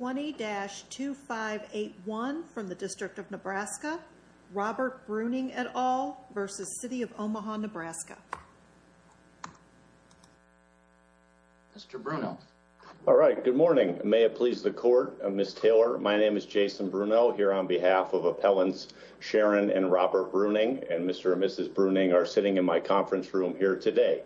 20-2581 from the District of Nebraska. Robert Bruning et al. versus City of Omaha Nebraska. Mr. Brunel. All right, good morning. May it please the court. Ms. Taylor, my name is Jason Brunel here on behalf of Appellants Sharon and Robert Bruning and Mr. and Mrs. Bruning are sitting in my conference room here today.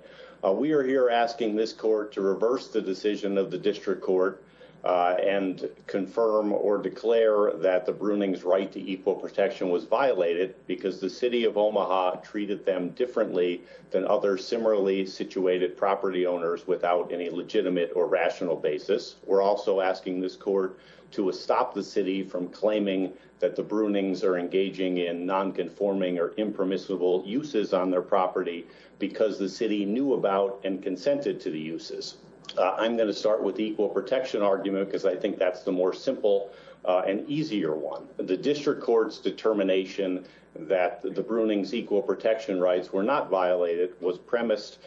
We are here asking this court to reverse the decision of the District Court and confirm or declare that the Bruning's right to equal protection was violated because the City of Omaha treated them differently than other similarly situated property owners without any legitimate or rational basis. We're also asking this court to stop the city from claiming that the Brunings are engaging in non-conforming or impermissible uses on their property because the city knew about and consented to the uses. I'm going to start with the equal protection argument because I think that's the more simple and easier one. The District Court's determination that the Bruning's equal protection rights were not violated was premised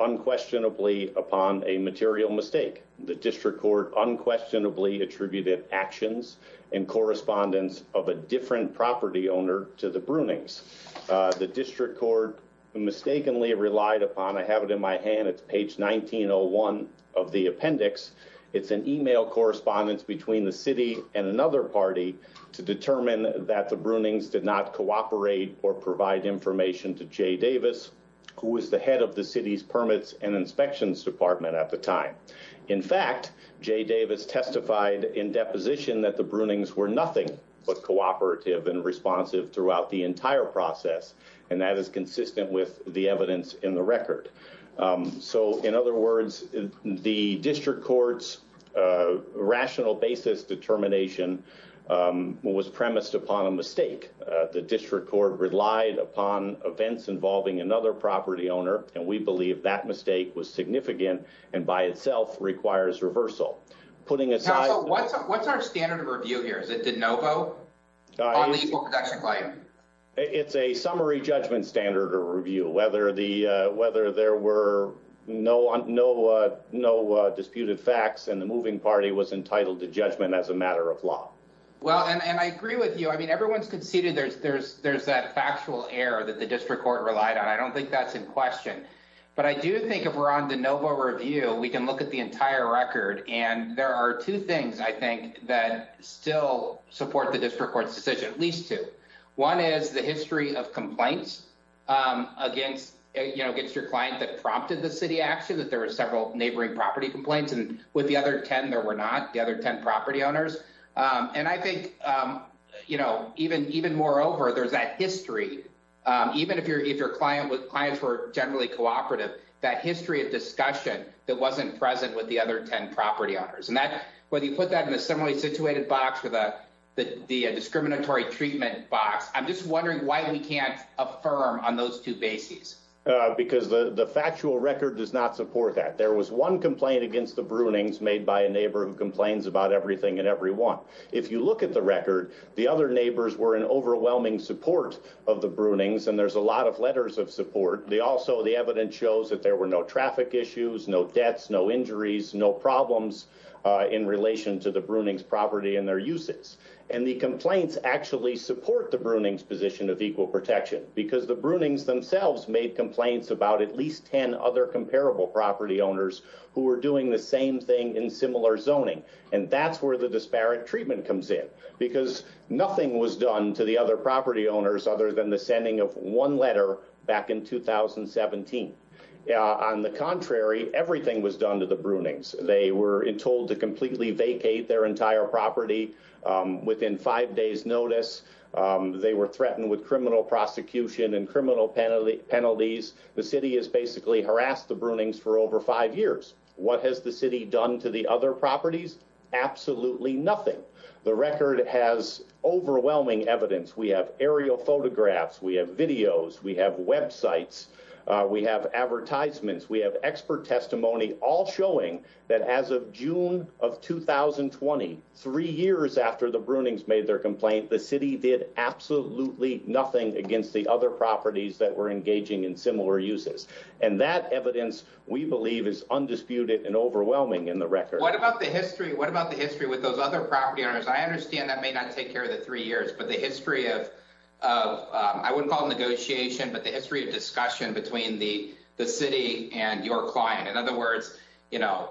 unquestionably upon a material mistake. The District Court unquestionably attributed actions and correspondence of a different property owner to the Brunings. The District Court mistakenly relied upon, I have it in my hand, it's page 1901 of the appendix, it's an email correspondence between the city and another party to determine that the Brunings did not cooperate or provide information to Jay Davis who was the head of the city's Permits and Inspections Department at the time. In fact, Jay Davis testified in deposition that the Brunings were nothing but cooperative and responsive throughout the entire process and that is consistent with the evidence in the record. So in other words, the District Court's rational basis determination was premised upon a mistake. The District Court relied upon events involving another property owner and we believe that mistake was significant and by itself requires reversal. Putting aside... What's our standard of review here? Is it de novo on the equal protection claim? It's a summary judgment standard of review, whether there were no disputed facts and the moving party was entitled to judgment as a matter of law. Well and I agree with you, I mean everyone's conceded there's that factual error that the District Court relied on, I don't think that's in question. But I do think if we're on de novo review, we can look at the entire record and there are two things I think that still support the One is the history of complaints against your client that prompted the city action, that there were several neighboring property complaints and with the other ten there were not, the other ten property owners. And I think even moreover, there's that history, even if your clients were generally cooperative, that history of discussion that wasn't present with the other ten property owners. Whether you put that in a similarly situated box with a discriminatory treatment box, I'm just wondering why we can't affirm on those two bases? Because the factual record does not support that. There was one complaint against the Brunings made by a neighbor who complains about everything and everyone. If you look at the record, the other neighbors were in overwhelming support of the Brunings and there's a lot of letters of support. Also the evidence shows that there were no traffic issues, no deaths, no injuries, no problems in relation to the Brunings property and their uses. And the complaints actually support the Brunings position of equal protection because the Brunings themselves made complaints about at least ten other comparable property owners who were doing the same thing in similar zoning. And that's where the disparate treatment comes in because nothing was done to the other property owners other than the sending of one letter back in 2017. On the contrary, everything was done to the Brunings. They were told to completely vacate their entire property within five days notice. They were threatened with criminal prosecution and criminal penalties. The city has basically harassed the Brunings for over five years. What has the city done to the other properties? Absolutely nothing. The have videos, we have websites, we have advertisements, we have expert testimony all showing that as of June of 2020, three years after the Brunings made their complaint, the city did absolutely nothing against the other properties that were engaging in similar uses. And that evidence we believe is undisputed and overwhelming in the record. What about the history? What about the history with those other property owners? I understand that may not take care of the three years, but the history of, I wouldn't call it negotiation, but the history of discussion between the the city and your client. In other words, you know,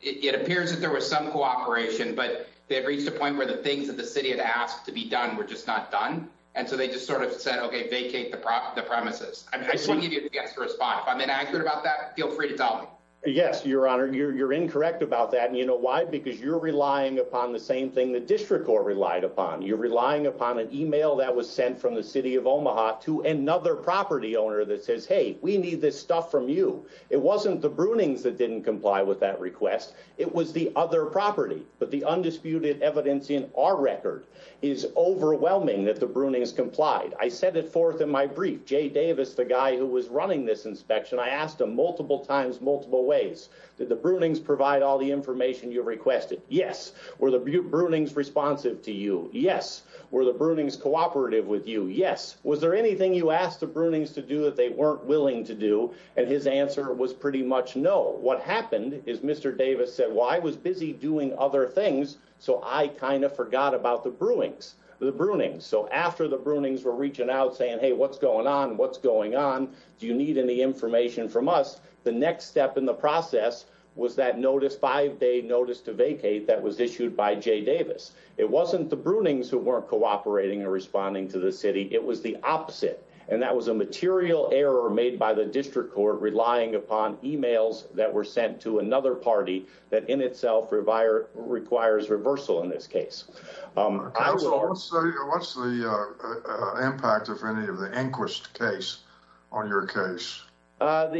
it appears that there was some cooperation, but they've reached a point where the things that the city had asked to be done were just not done. And so they just sort of said, okay, vacate the premises. I just want to give you a chance to respond. If I'm inaccurate about that, feel free to tell me. Yes, your honor, you're incorrect about that. And you know why? Because you're relying upon the same thing the district court relied upon. You're relying upon an email that was sent from the city of Omaha to another property owner that says, hey, we need this stuff from you. It wasn't the Brunings that didn't comply with that request. It was the other property. But the undisputed evidence in our record is overwhelming that the Brunings complied. I said it forth in my brief, Jay Davis, the guy who was running this inspection. I asked him multiple times, multiple ways that the Brunings provide all the information you requested. Yes, where the Brunings responsive to you? Yes. Were the Brunings cooperative with you? Yes. Was there anything you asked the Brunings to do that they weren't willing to do? And his answer was pretty much no. What happened is Mr. Davis said, well, I was busy doing other things, so I kind of forgot about the Brunings. So after the Brunings were reaching out saying, hey, what's going on? What's going on? Do you need any information from us? The next step in the process was that five day notice to vacate that was issued by Jay Davis. It wasn't the Brunings who weren't cooperating and responding to the city. It was the opposite. And that was a material error made by the district court relying upon emails that were sent to another party that in itself requires reversal in this case. What's the impact of any of the inquest case on your case? The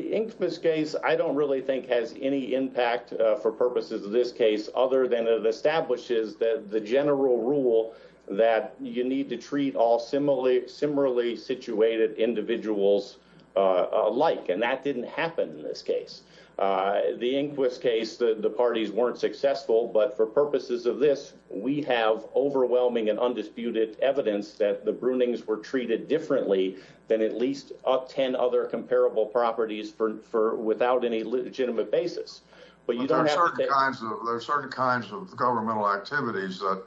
for purposes of this case other than it establishes that the general rule that you need to treat all similarly, similarly situated individuals alike. And that didn't happen in this case. Uh, the inquest case, the parties weren't successful. But for purposes of this, we have overwhelming and undisputed evidence that the Brunings were treated differently than at least up 10 other comparable properties for without any legitimate basis. But you guys, there are certain kinds of governmental activities that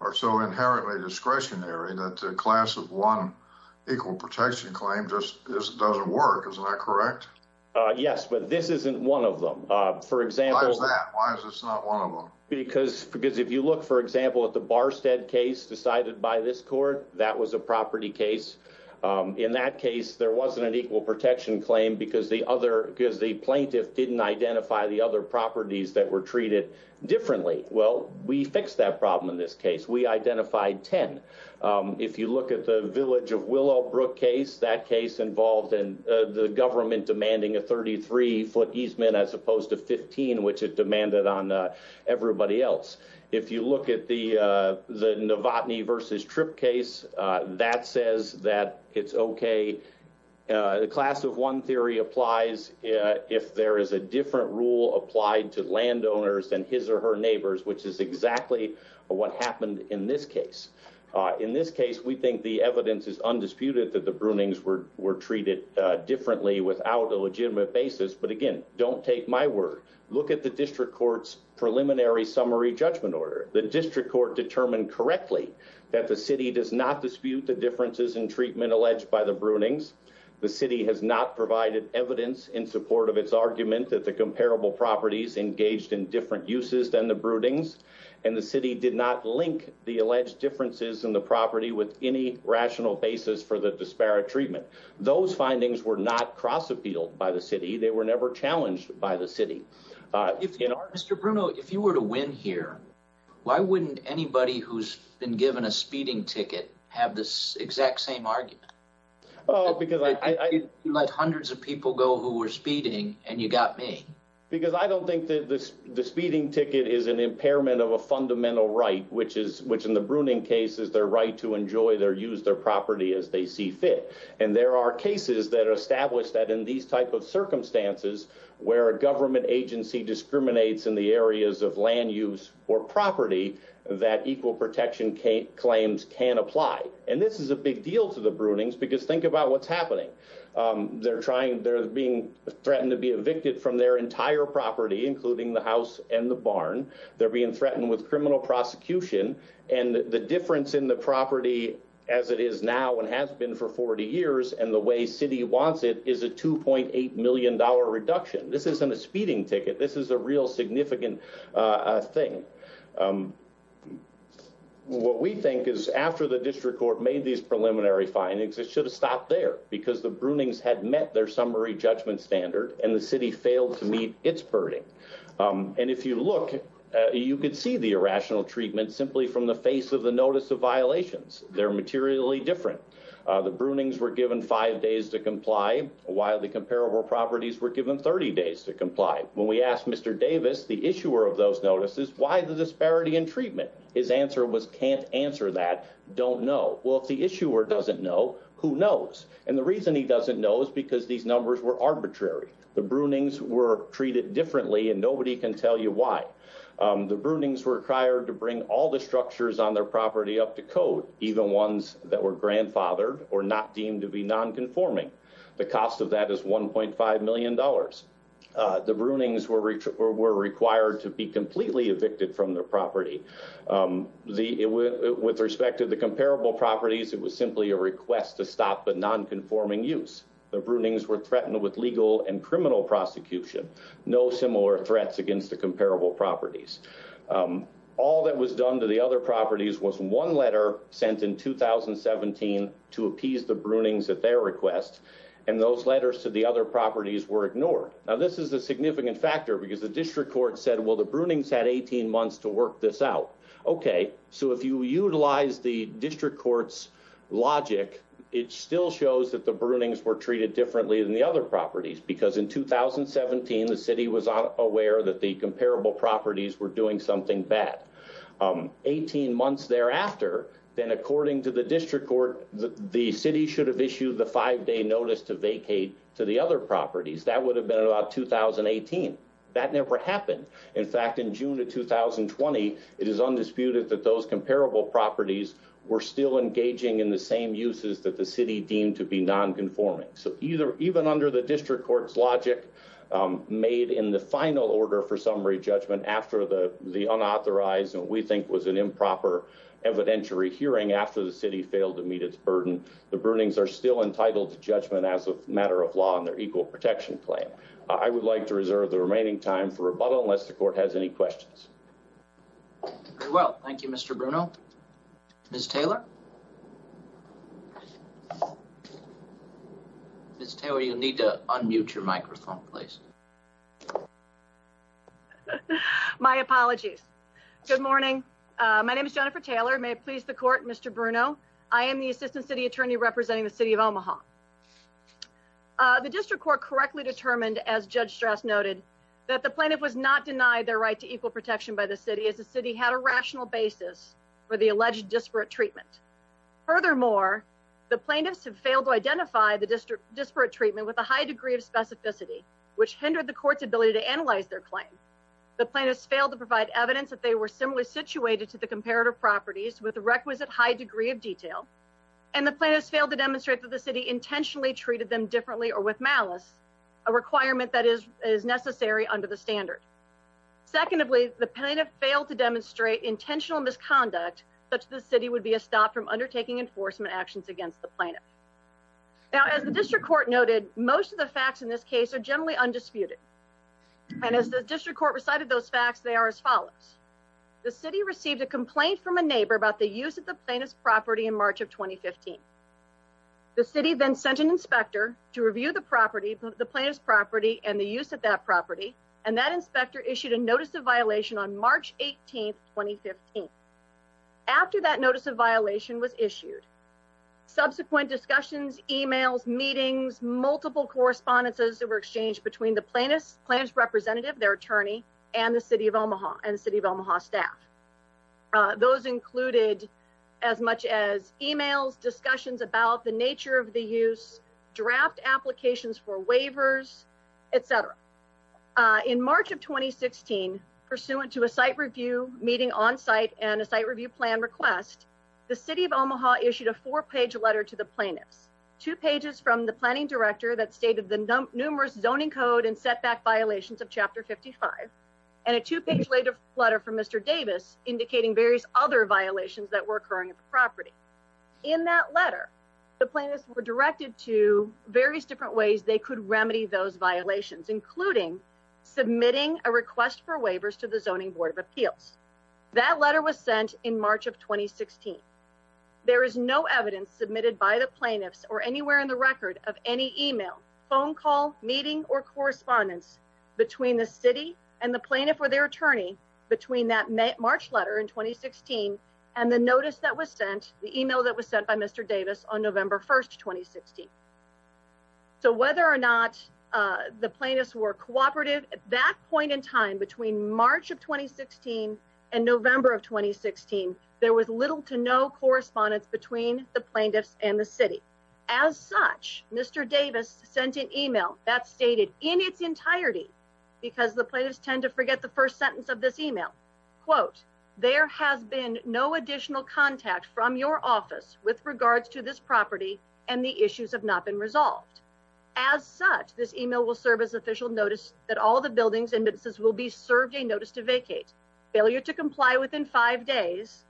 are so inherently discretionary that class of one equal protection claim just doesn't work. Isn't that correct? Yes, but this isn't one of them. For example, why is this not one of them? Because because if you look, for example, at the Barstead case decided by this court, that was a property case. Um, in that case, there wasn't an equal protection claim because the other because the properties that were treated differently. Well, we fixed that problem. In this case, we identified 10. Um, if you look at the village of Willow Brook case, that case involved in the government demanding a 33 ft easement as opposed to 15, which it demanded on everybody else. If you look at the the Novotny versus Trip case, that says that it's okay. Uh, class of one theory applies if there is a different rule applied to landowners than his or her neighbors, which is exactly what happened in this case. In this case, we think the evidence is undisputed that the broonings were were treated differently without a legitimate basis. But again, don't take my word. Look at the district court's preliminary summary judgment order. The district court determined correctly that the city does not dispute the provided evidence in support of its argument that the comparable properties engaged in different uses than the broodings and the city did not link the alleged differences in the property with any rational basis for the disparate treatment. Those findings were not cross appealed by the city. They were never challenged by the city. Uh, you know, Mr Bruno, if you were to win here, why wouldn't anybody who's been given a speeding ticket have this exact same argument? Oh, because I let hundreds of people go who were speeding and you got me because I don't think that the speeding ticket is an impairment of a fundamental right, which is which in the bruning case is their right to enjoy their use their property as they see fit. And there are cases that established that in these type of circumstances where a government agency discriminates in the areas of land use or property that equal protection claims can apply. And this is a big deal to the broodings because think about what's happening. Um, they're trying. They're being threatened to be evicted from their entire property, including the house and the barn. They're being threatened with criminal prosecution and the difference in the property as it is now and has been for 40 years and the way city wants it is a $2.8 million reduction. This isn't a speeding ticket. This is a real significant thing. Um, what we think is after the district court made these preliminary findings, it should have stopped there because the broonings had met their summary judgment standard and the city failed to meet its birding. Um, and if you look, you could see the irrational treatment simply from the face of the notice of violations. They're materially different. The broonings were given five days to comply while the comparable properties were given 30 days to comply. When we asked Mr Davis, the issuer of those notices, why the disparity in treatment? His answer was can't answer that don't know. Well, if the issuer doesn't know who knows and the reason he doesn't know is because these numbers were arbitrary. The broonings were treated differently and nobody can tell you why. Um, the broonings were required to bring all the structures on their property up to code, even ones that were grandfathered or not deemed to be non conforming. The cost of that is $1.5 million. The broonings were were required to be completely evicted from their property. Um, the with respect to the comparable properties, it was simply a request to stop but non conforming use. The broonings were threatened with legal and criminal prosecution. No similar threats against the comparable properties. Um, all that was done to the other properties was one letter sent in 2017 to appease the broonings at their request, and those letters to the other properties were ignored. Now, this is a significant factor because the district court said, well, the broonings had 18 months to work this out. Okay, so if you utilize the district courts logic, it still shows that the broonings were treated differently than the other properties. Because in 2017, the city was aware that the comparable properties were doing something bad. Um, 18 months thereafter, then, according to the district court, the city should have properties. That would have been about 2018. That never happened. In fact, in June of 2020, it is undisputed that those comparable properties were still engaging in the same uses that the city deemed to be non conforming. So either even under the district court's logic made in the final order for summary judgment after the unauthorized and we think was an improper evidentiary hearing after the city failed to meet its burden. The broonings are still equal protection claim. I would like to reserve the remaining time for rebuttal unless the court has any questions. Well, thank you, Mr Bruno. Miss Taylor. It's Taylor. You need to unmute your microphone, please. My apologies. Good morning. My name is Jennifer Taylor. May it please the court, Mr Bruno. I am the assistant city attorney representing the city of Omaha. Uh, the district court correctly determined, as Judge stress noted that the plaintiff was not denied their right to equal protection by the city as the city had a rational basis for the alleged disparate treatment. Furthermore, the plaintiffs have failed to identify the district disparate treatment with a high degree of specificity, which hindered the court's ability to analyze their claim. The plaintiffs failed to provide evidence that they were similarly situated to the comparative properties with the requisite high degree of detail, and the plaintiffs failed to demonstrate that the city intentionally treated them differently or with malice, a requirement that is necessary under the standard. Secondly, the plaintiff failed to demonstrate intentional misconduct. Such the city would be a stop from undertaking enforcement actions against the plaintiff. Now, as the district court noted, most of the facts in this case are generally undisputed, and as the district court recited those facts, they are as follows. The city received a complaint from a neighbor about the use of the plaintiff's property in March of 2015. The city then sent an inspector to review the property, the plaintiff's property and the use of that property, and that inspector issued a notice of violation on March 18th, 2015. After that notice of violation was issued, subsequent discussions, emails, meetings, multiple correspondences that were exchanged between the plaintiff's plaintiff's representative, their attorney and the city of Omaha and city of Omaha staff. Those included as much as emails, discussions about the nature of the use, draft applications for waivers, etcetera. Uh, in March of 2016, pursuant to a site review meeting on site and a site review plan request, the city of Omaha issued a four page letter to the plaintiffs, two pages from the planning director that stated the numerous zoning code and setback violations of Chapter 55 and a two page letter letter from Mr Davis, indicating various other violations that were occurring at the property. In that letter, the plaintiffs were directed to various different ways they could remedy those violations, including submitting a request for waivers to the Zoning Board of Appeals. That letter was sent in March of 2016. There is no evidence submitted by the plaintiffs or anywhere in the record of any email, phone call, meeting or correspondence between the city and the plaintiff or their attorney between that notice that was sent the email that was sent by Mr Davis on November 1st, 2016. So whether or not the plaintiffs were cooperative at that point in time, between March of 2016 and November of 2016, there was little to no correspondence between the plaintiffs and the city. As such, Mr Davis sent an email that stated in its entirety because the plaintiffs tend to forget the first sentence of this email quote. There has been no additional contact from your office with regards to this property, and the issues have not been resolved. As such, this email will serve as official notice that all the buildings and businesses will be served a notice to vacate. Failure to comply within five days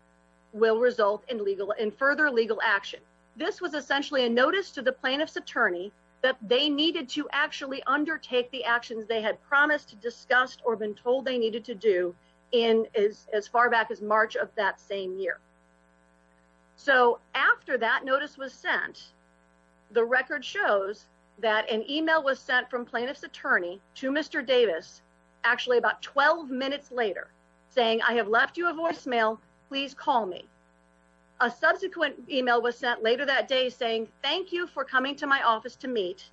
will result in legal and further legal action. This was essentially a notice to the plaintiff's attorney that they needed to actually told they needed to do in is as far back as March of that same year. So after that notice was sent, the record shows that an email was sent from plaintiff's attorney to Mr Davis actually about 12 minutes later, saying I have left you a voicemail. Please call me. A subsequent email was sent later that day, saying thank you for coming to my office to meet.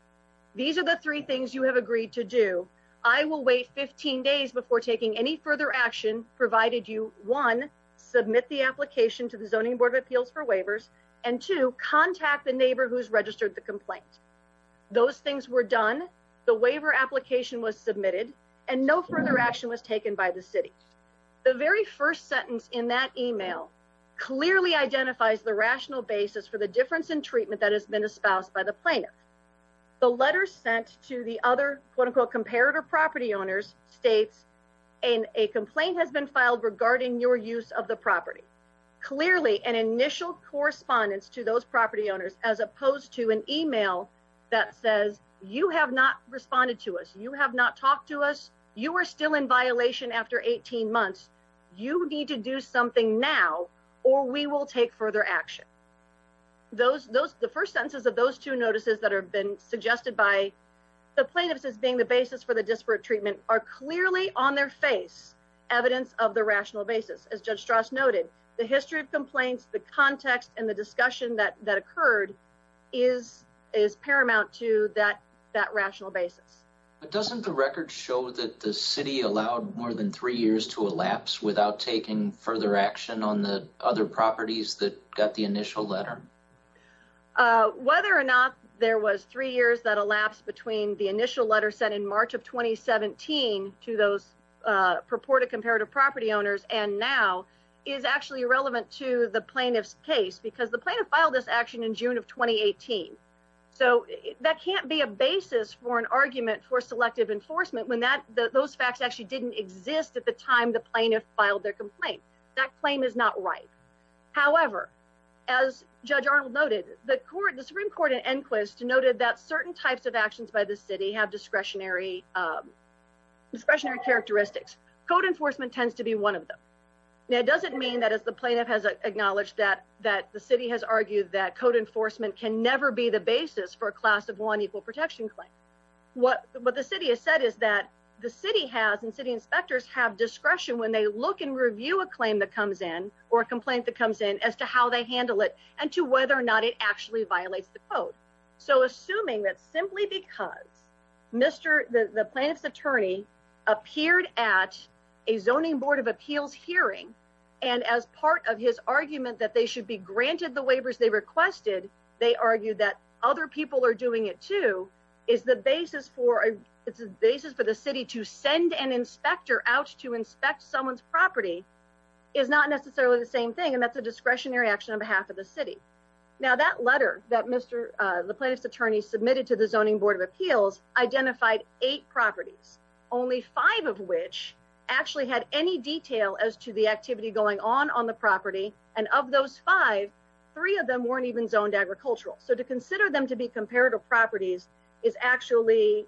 These are the three things you have agreed to do. I will wait 15 days before taking any further action provided you one submit the application to the Zoning Board of Appeals for waivers and to contact the neighbor who's registered the complaint. Those things were done. The waiver application was submitted, and no further action was taken by the city. The very first sentence in that email clearly identifies the rational basis for the difference in treatment that has been espoused by the plaintiff. The letter sent to the other quote unquote comparator property owners states and a complaint has been filed regarding your use of the property. Clearly, an initial correspondence to those property owners, as opposed to an email that says you have not responded to us. You have not talked to us. You are still in violation after 18 months. You need to do something now, or we will take further action. Those those the first senses of those two notices that have been suggested by the plaintiffs is being the basis for the disparate treatment are clearly on their face evidence of the rational basis. As Judge Strauss noted, the history of complaints, the context and the discussion that that occurred is is paramount to that that rational basis. But doesn't the record show that the action on the other properties that got the initial letter whether or not there was three years that elapsed between the initial letter set in March of 2017 to those purported comparative property owners and now is actually irrelevant to the plaintiff's case because the plaintiff filed this action in June of 2018. So that can't be a basis for an argument for selective enforcement when that those facts actually didn't exist at the time the plaintiff filed their complaint. That claim is not right. However, as Judge Arnold noted, the court, the Supreme Court and inquest noted that certain types of actions by the city have discretionary, um, discretionary characteristics. Code enforcement tends to be one of them. It doesn't mean that, as the plaintiff has acknowledged that that the city has argued that code enforcement can never be the basis for a class of one equal protection claim. What? But the city has said is that the city has and city inspectors have discretion when they look and review a claim that comes in or a complaint that comes in as to how they handle it and to whether or not it actually violates the quote. So assuming that simply because Mr. The plaintiff's attorney appeared at a zoning board of appeals hearing and as part of his argument that they should be granted the waivers they requested, they argued that other people are doing it, too, is the basis for a basis for the city to send an inspector out to property is not necessarily the same thing, and that's a discretionary action on behalf of the city. Now, that letter that Mr. The plaintiff's attorney submitted to the zoning board of appeals identified eight properties, only five of which actually had any detail as to the activity going on on the property. And of those five, three of them weren't even zoned agricultural. So to consider them to be comparative properties is actually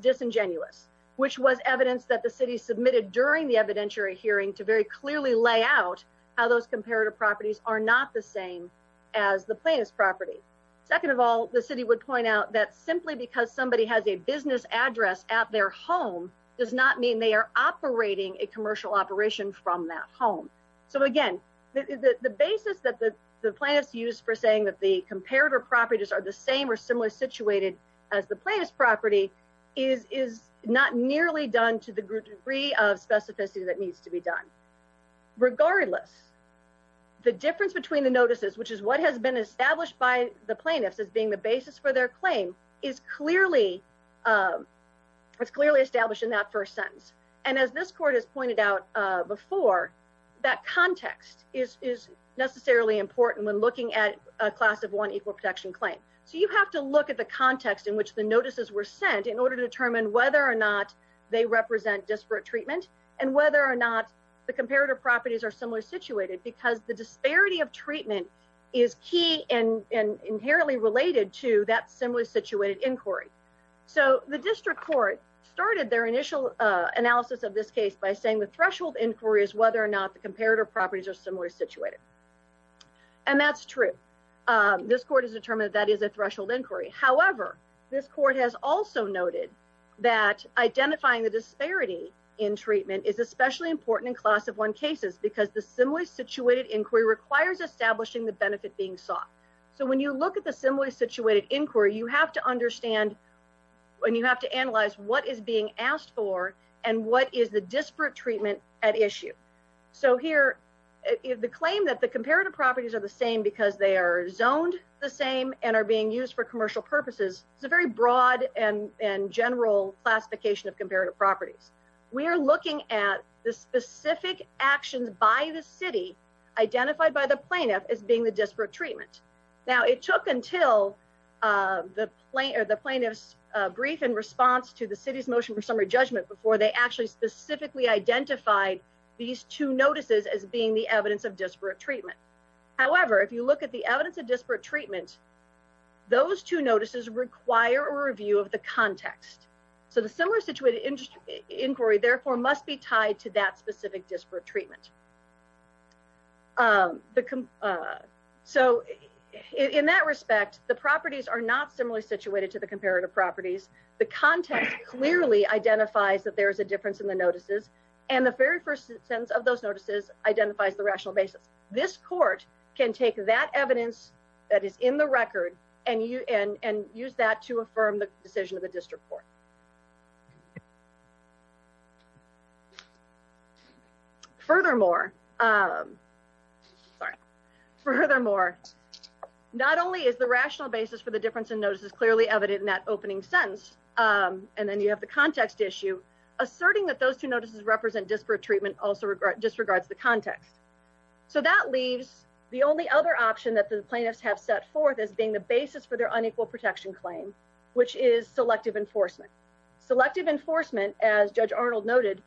disingenuous, which was evidence that the city submitted during the evidentiary hearing to very clearly lay out how those comparative properties are not the same as the plaintiff's property. Second of all, the city would point out that simply because somebody has a business address at their home does not mean they are operating a commercial operation from that home. So again, the basis that the plaintiff's used for saying that the comparative properties are the same or similar situated as the plaintiff's property is not nearly done to the degree of specificity that needs to be done. Regardless, the difference between the notices, which is what has been established by the plaintiffs as being the basis for their claim, is clearly it's clearly established in that first sentence. And as this court has pointed out before, that context is necessarily important when looking at a class of one equal protection claim. So you have to look at the context in which the notices were sent in order to determine whether or not they represent disparate treatment and whether or not the comparative properties are similarly situated because the disparity of treatment is key and inherently related to that similarly situated inquiry. So the district court started their initial analysis of this case by saying the threshold inquiry is whether or not the comparative properties are similarly situated. And that's true. This court has determined that that is a court has also noted that identifying the disparity in treatment is especially important in class of one cases because the similarly situated inquiry requires establishing the benefit being sought. So when you look at the similarly situated inquiry, you have to understand when you have to analyze what is being asked for and what is the disparate treatment at issue. So here is the claim that the comparative properties are the same because they are zoned the same and are being used for commercial purposes. It's a very broad and general classification of comparative properties. We're looking at the specific actions by the city identified by the plaintiff as being the disparate treatment. Now it took until, uh, the plane or the plaintiff's brief in response to the city's motion for summary judgment before they actually specifically identified these two notices as being the evidence of disparate treatment. However, if you require a review of the context, so the similar situated industry inquiry therefore must be tied to that specific disparate treatment. Um, the, uh, so in that respect, the properties are not similarly situated to the comparative properties. The content clearly identifies that there is a difference in the notices, and the very first sentence of those notices identifies the rational basis. This court can take that evidence that is in the record and you and and use that to affirm the decision of the district court. Furthermore, um, sorry, furthermore, not only is the rational basis for the difference in notice is clearly evident in that opening sentence. Um, and then you have the context issue asserting that those two notices represent disparate treatment also disregards the context. So that leaves the only other option that the plaintiffs have set forth as being the basis for their unequal protection claim, which is selective enforcement. Selective enforcement, as Judge Arnold noted,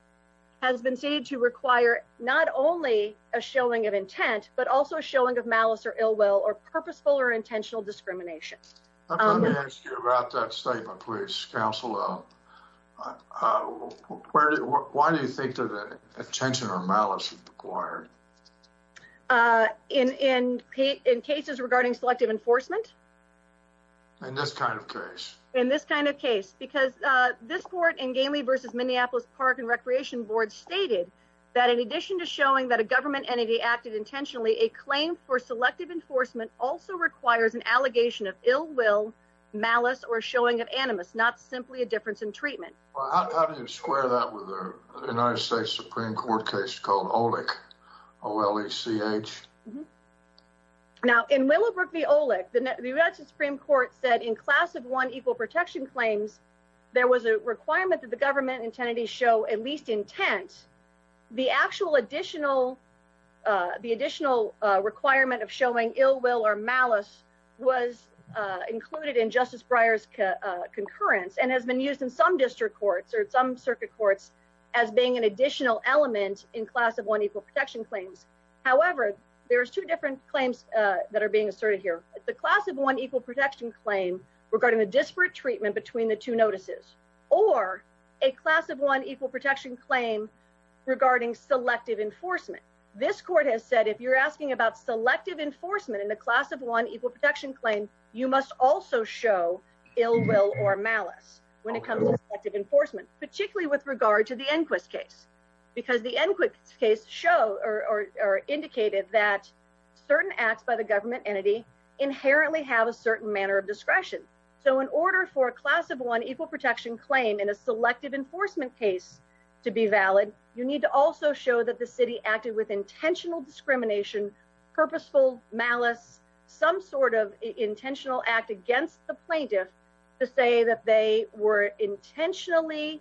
has been seen to require not only a showing of intent, but also showing of malice or ill will or purposeful or intentional discrimination. Let me ask you about that statement. Please, Council. Uh, uh, why do you think that attention or malice required? Uh, in in in cases regarding selective enforcement in this kind of case, in this kind of case, because this court in Galey versus Minneapolis Park and Recreation Board stated that in addition to showing that a government entity acted intentionally, a claim for selective enforcement also requires an allegation of ill will, malice or showing of animus, not simply a difference in treatment. How do you square that with the United States Supreme Court case called Olick O. L. E. C. H. Now, in Willowbrook, the Olick, the United Supreme Court said in class of one equal protection claims, there was a requirement that the government intended to show at least intent. The actual additional, uh, the additional requirement of showing ill will or malice was included in Justice Breyer's concurrence and has been used in some district courts or some circuit courts as being an additional element in class of one equal protection claims. However, there's two different claims that are being asserted here. The class of one equal protection claim regarding the disparate treatment between the two notices or a class of one equal protection claim regarding selective enforcement. This court has said, if you're asking about selective enforcement in the class of one equal protection claim, you must also show ill will or malice when it comes to selective enforcement, particularly with show or indicated that certain acts by the government entity inherently have a certain manner of discretion. So in order for a class of one equal protection claim in a selective enforcement case to be valid, you need to also show that the city acted with intentional discrimination, purposeful malice, some sort of intentional act against the plaintiff to say that they were intentionally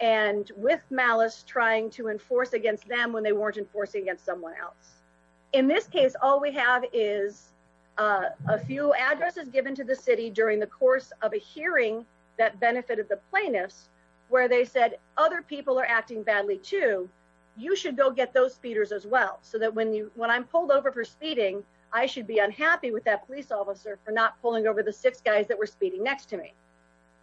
and with malice trying to enforce against them when they weren't enforcing against someone else. In this case, all we have is a few addresses given to the city during the course of a hearing that benefited the plaintiffs where they said other people are acting badly, too. You should go get those speeders as well so that when you when I'm pulled over for speeding, I should be unhappy with that police officer for not pulling over the six guys that were speeding next to me.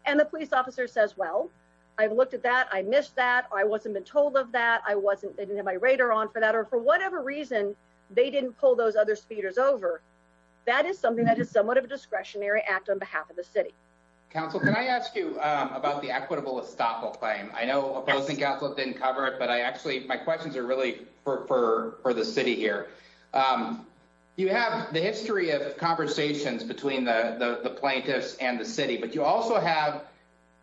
And the police officer says, Well, I've looked at that. I missed that. I wasn't been told of that. I wasn't. They didn't my radar on for that or for whatever reason they didn't pull those other speeders over. That is something that is somewhat of a discretionary act on behalf of the city. Council, can I ask you about the equitable estoppel claim? I know opposing Catholic didn't cover it, but I actually my questions are really for for the city here. Um, you have the history of conversations between the plaintiffs and the city, but you also have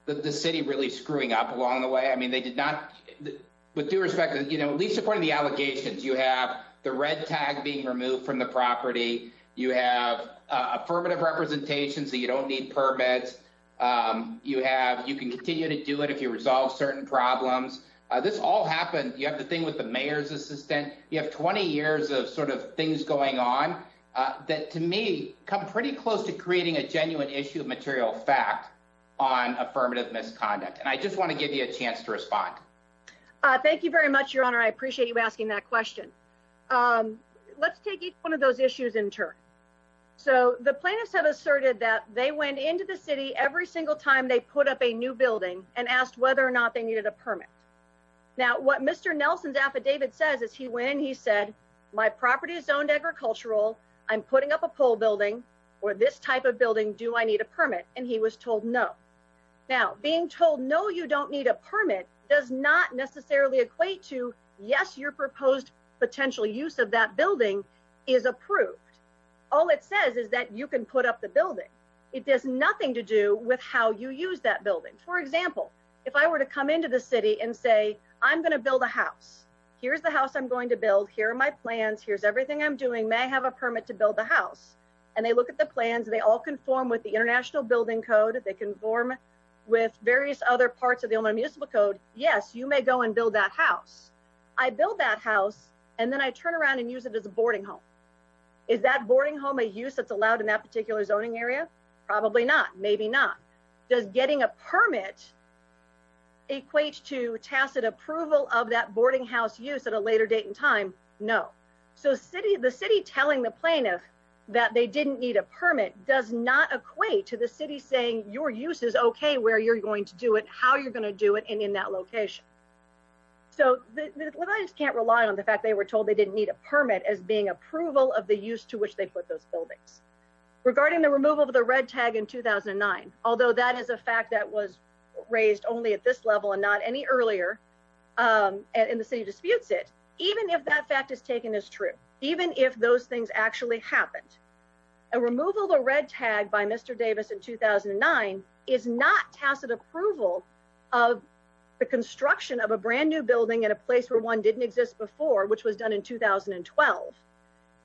the city really screwing up along the way. I mean, they did not with due respect, you know, least according the allegations you have the red tag being removed from the property. You have affirmative representations that you don't need permits. Um, you have. You can continue to do it if you resolve certain problems. This all happened. You have the thing with the mayor's assistant. You have 20 years of sort of things going on that to me come pretty close to creating a genuine issue of material fact on affirmative misconduct. And I just want to give you a chance to respond. Thank you very much, Your appreciate you asking that question. Um, let's take one of those issues in turn. So the plaintiffs have asserted that they went into the city every single time they put up a new building and asked whether or not they needed a permit. Now, what Mr Nelson's affidavit says is he when he said my property is owned agricultural, I'm putting up a pole building or this type of building. Do I need a permit? And he was told no. Now, being told no, you don't need a yes, your proposed potential use of that building is approved. All it says is that you can put up the building. It does nothing to do with how you use that building. For example, if I were to come into the city and say, I'm going to build a house. Here's the house I'm going to build. Here are my plans. Here's everything I'm doing may have a permit to build the house. And they look at the plans. They all conform with the International Building Code. They conform with various other parts of the only municipal code. Yes, you may go and build that house. I build that house and then I turn around and use it as a boarding home. Is that boarding home a use that's allowed in that particular zoning area? Probably not. Maybe not. Does getting a permit equates to tacit approval of that boarding house use at a later date and time? No. So city the city telling the plaintiff that they didn't need a permit does not equate to the city saying your use is okay where you're going to do it, how you're going to do it and in that location. So what I just can't rely on the fact they were told they didn't need a permit as being approval of the use to which they put those buildings regarding the removal of the red tag in 2009. Although that is a fact that was raised only at this level and not any earlier. Um, in the city disputes it, even if that fact is taken as true, even if those things actually happened, a removal of the red tag by Mr Davis in 2009 is not tacit approval of the construction of a brand new building in a place where one didn't exist before, which was done in 2012.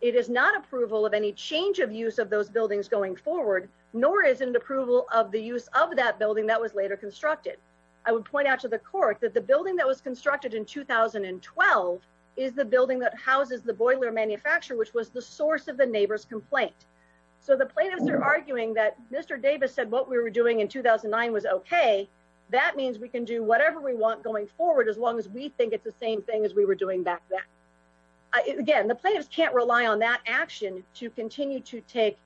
It is not approval of any change of use of those buildings going forward, nor is an approval of the use of that building that was later constructed. I would point out to the court that the building that was constructed in 2012 is the building that houses the boiler manufacturer, which was the source of the neighbor's complaint. So the plaintiffs are arguing that Mr Davis said what we were doing in 2009 was okay. That means we can do whatever we want going forward as long as we think it's the same thing as we were doing back then. Again, the plaintiffs can't rely on that action to continue to take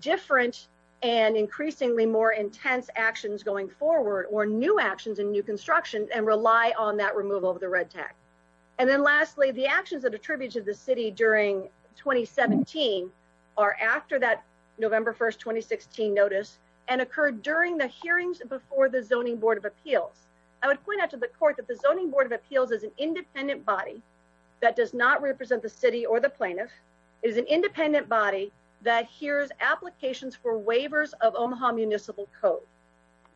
different and increasingly more intense actions going forward or new actions in new construction and rely on that removal of the red tag. And then, 17 are after that November 1st 2016 notice and occurred during the hearings before the Zoning Board of Appeals. I would point out to the court that the Zoning Board of Appeals is an independent body that does not represent the city or the plaintiff is an independent body that hears applications for waivers of Omaha municipal code.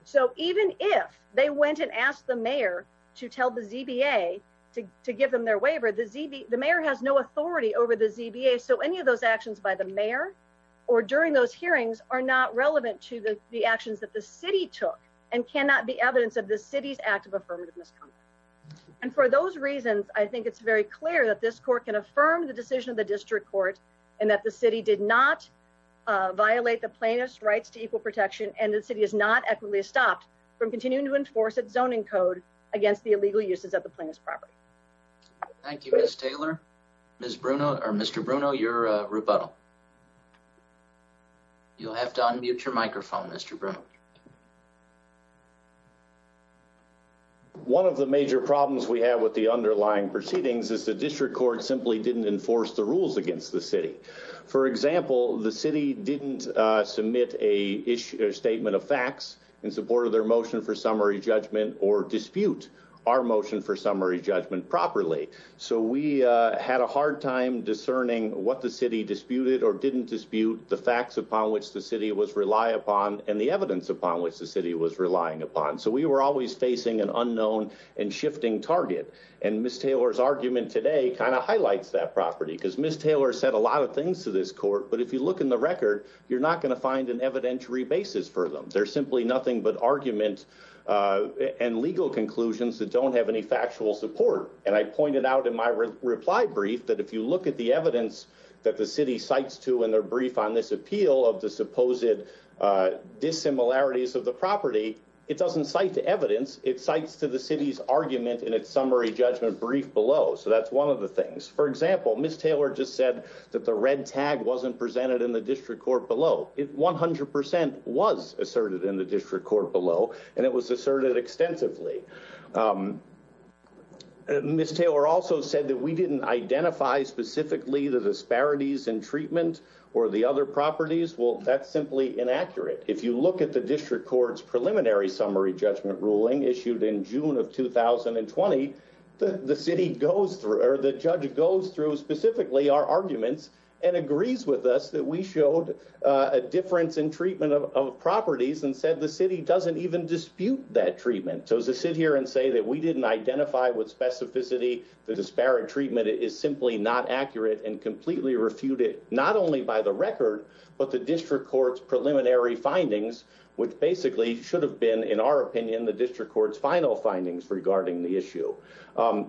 So even if they went and asked the mayor to tell the Z. B. A. To give them their waiver, the Z. B. The of those actions by the mayor or during those hearings are not relevant to the actions that the city took and cannot be evidence of the city's act of affirmative misconduct. And for those reasons, I think it's very clear that this court can affirm the decision of the district court and that the city did not violate the plaintiff's rights to equal protection. And the city is not equitably stopped from continuing to enforce its zoning code against the illegal uses of the plaintiff's property. Thank you, Miss Taylor. Ms rebuttal. You'll have to unmute your microphone, Mr. Brown. One of the major problems we have with the underlying proceedings is the district court simply didn't enforce the rules against the city. For example, the city didn't submit a issue statement of facts in support of their motion for summary judgment or dispute our motion for summary judgment properly. So we had a hard time discerning what the city disputed or didn't dispute the facts upon which the city was rely upon and the evidence upon which the city was relying upon. So we were always facing an unknown and shifting target. And Miss Taylor's argument today kind of highlights that property because Miss Taylor said a lot of things to this court. But if you look in the record, you're not going to find an evidentiary basis for them. They're simply nothing but argument on legal conclusions that don't have any actual support. And I pointed out in my reply brief that if you look at the evidence that the city cites to in their brief on this appeal of the supposed dissimilarities of the property, it doesn't cite to evidence. It cites to the city's argument in its summary judgment brief below. So that's one of the things. For example, Miss Taylor just said that the red tag wasn't presented in the district court below. It 100% was asserted in the Miss Taylor also said that we didn't identify specifically the disparities in treatment or the other properties. Well, that's simply inaccurate. If you look at the district court's preliminary summary judgment ruling issued in June of 2020, the city goes through or the judge goes through specifically our arguments and agrees with us that we showed a difference in treatment of properties and said the city doesn't even dispute that treatment. So to sit here and say that we didn't identify with specificity, the disparate treatment is simply not accurate and completely refuted not only by the record, but the district court's preliminary findings, which basically should have been, in our opinion, the district court's final findings regarding the issue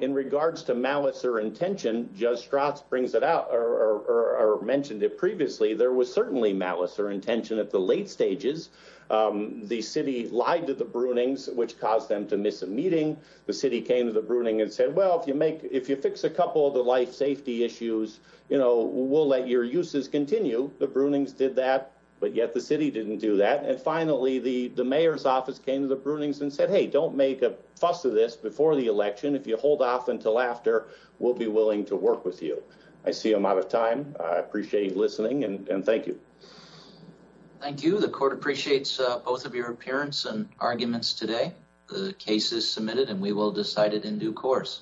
in regards to malice or intention. Judge Strauss brings it out or mentioned it previously. There was certainly malice or intention at the late stages. The city came to the bruning and said, Well, if you make if you fix a couple of the life safety issues, you know, we'll let your uses continue. The brunings did that. But yet the city didn't do that. And finally, the mayor's office came to the brunings and said, Hey, don't make a fuss of this before the election. If you hold off until after, we'll be willing to work with you. I see him out of time. I appreciate listening and thank you. Thank you. The court appreciates both of your appearance and arguments today. The case is submitted and we will decide it in due course.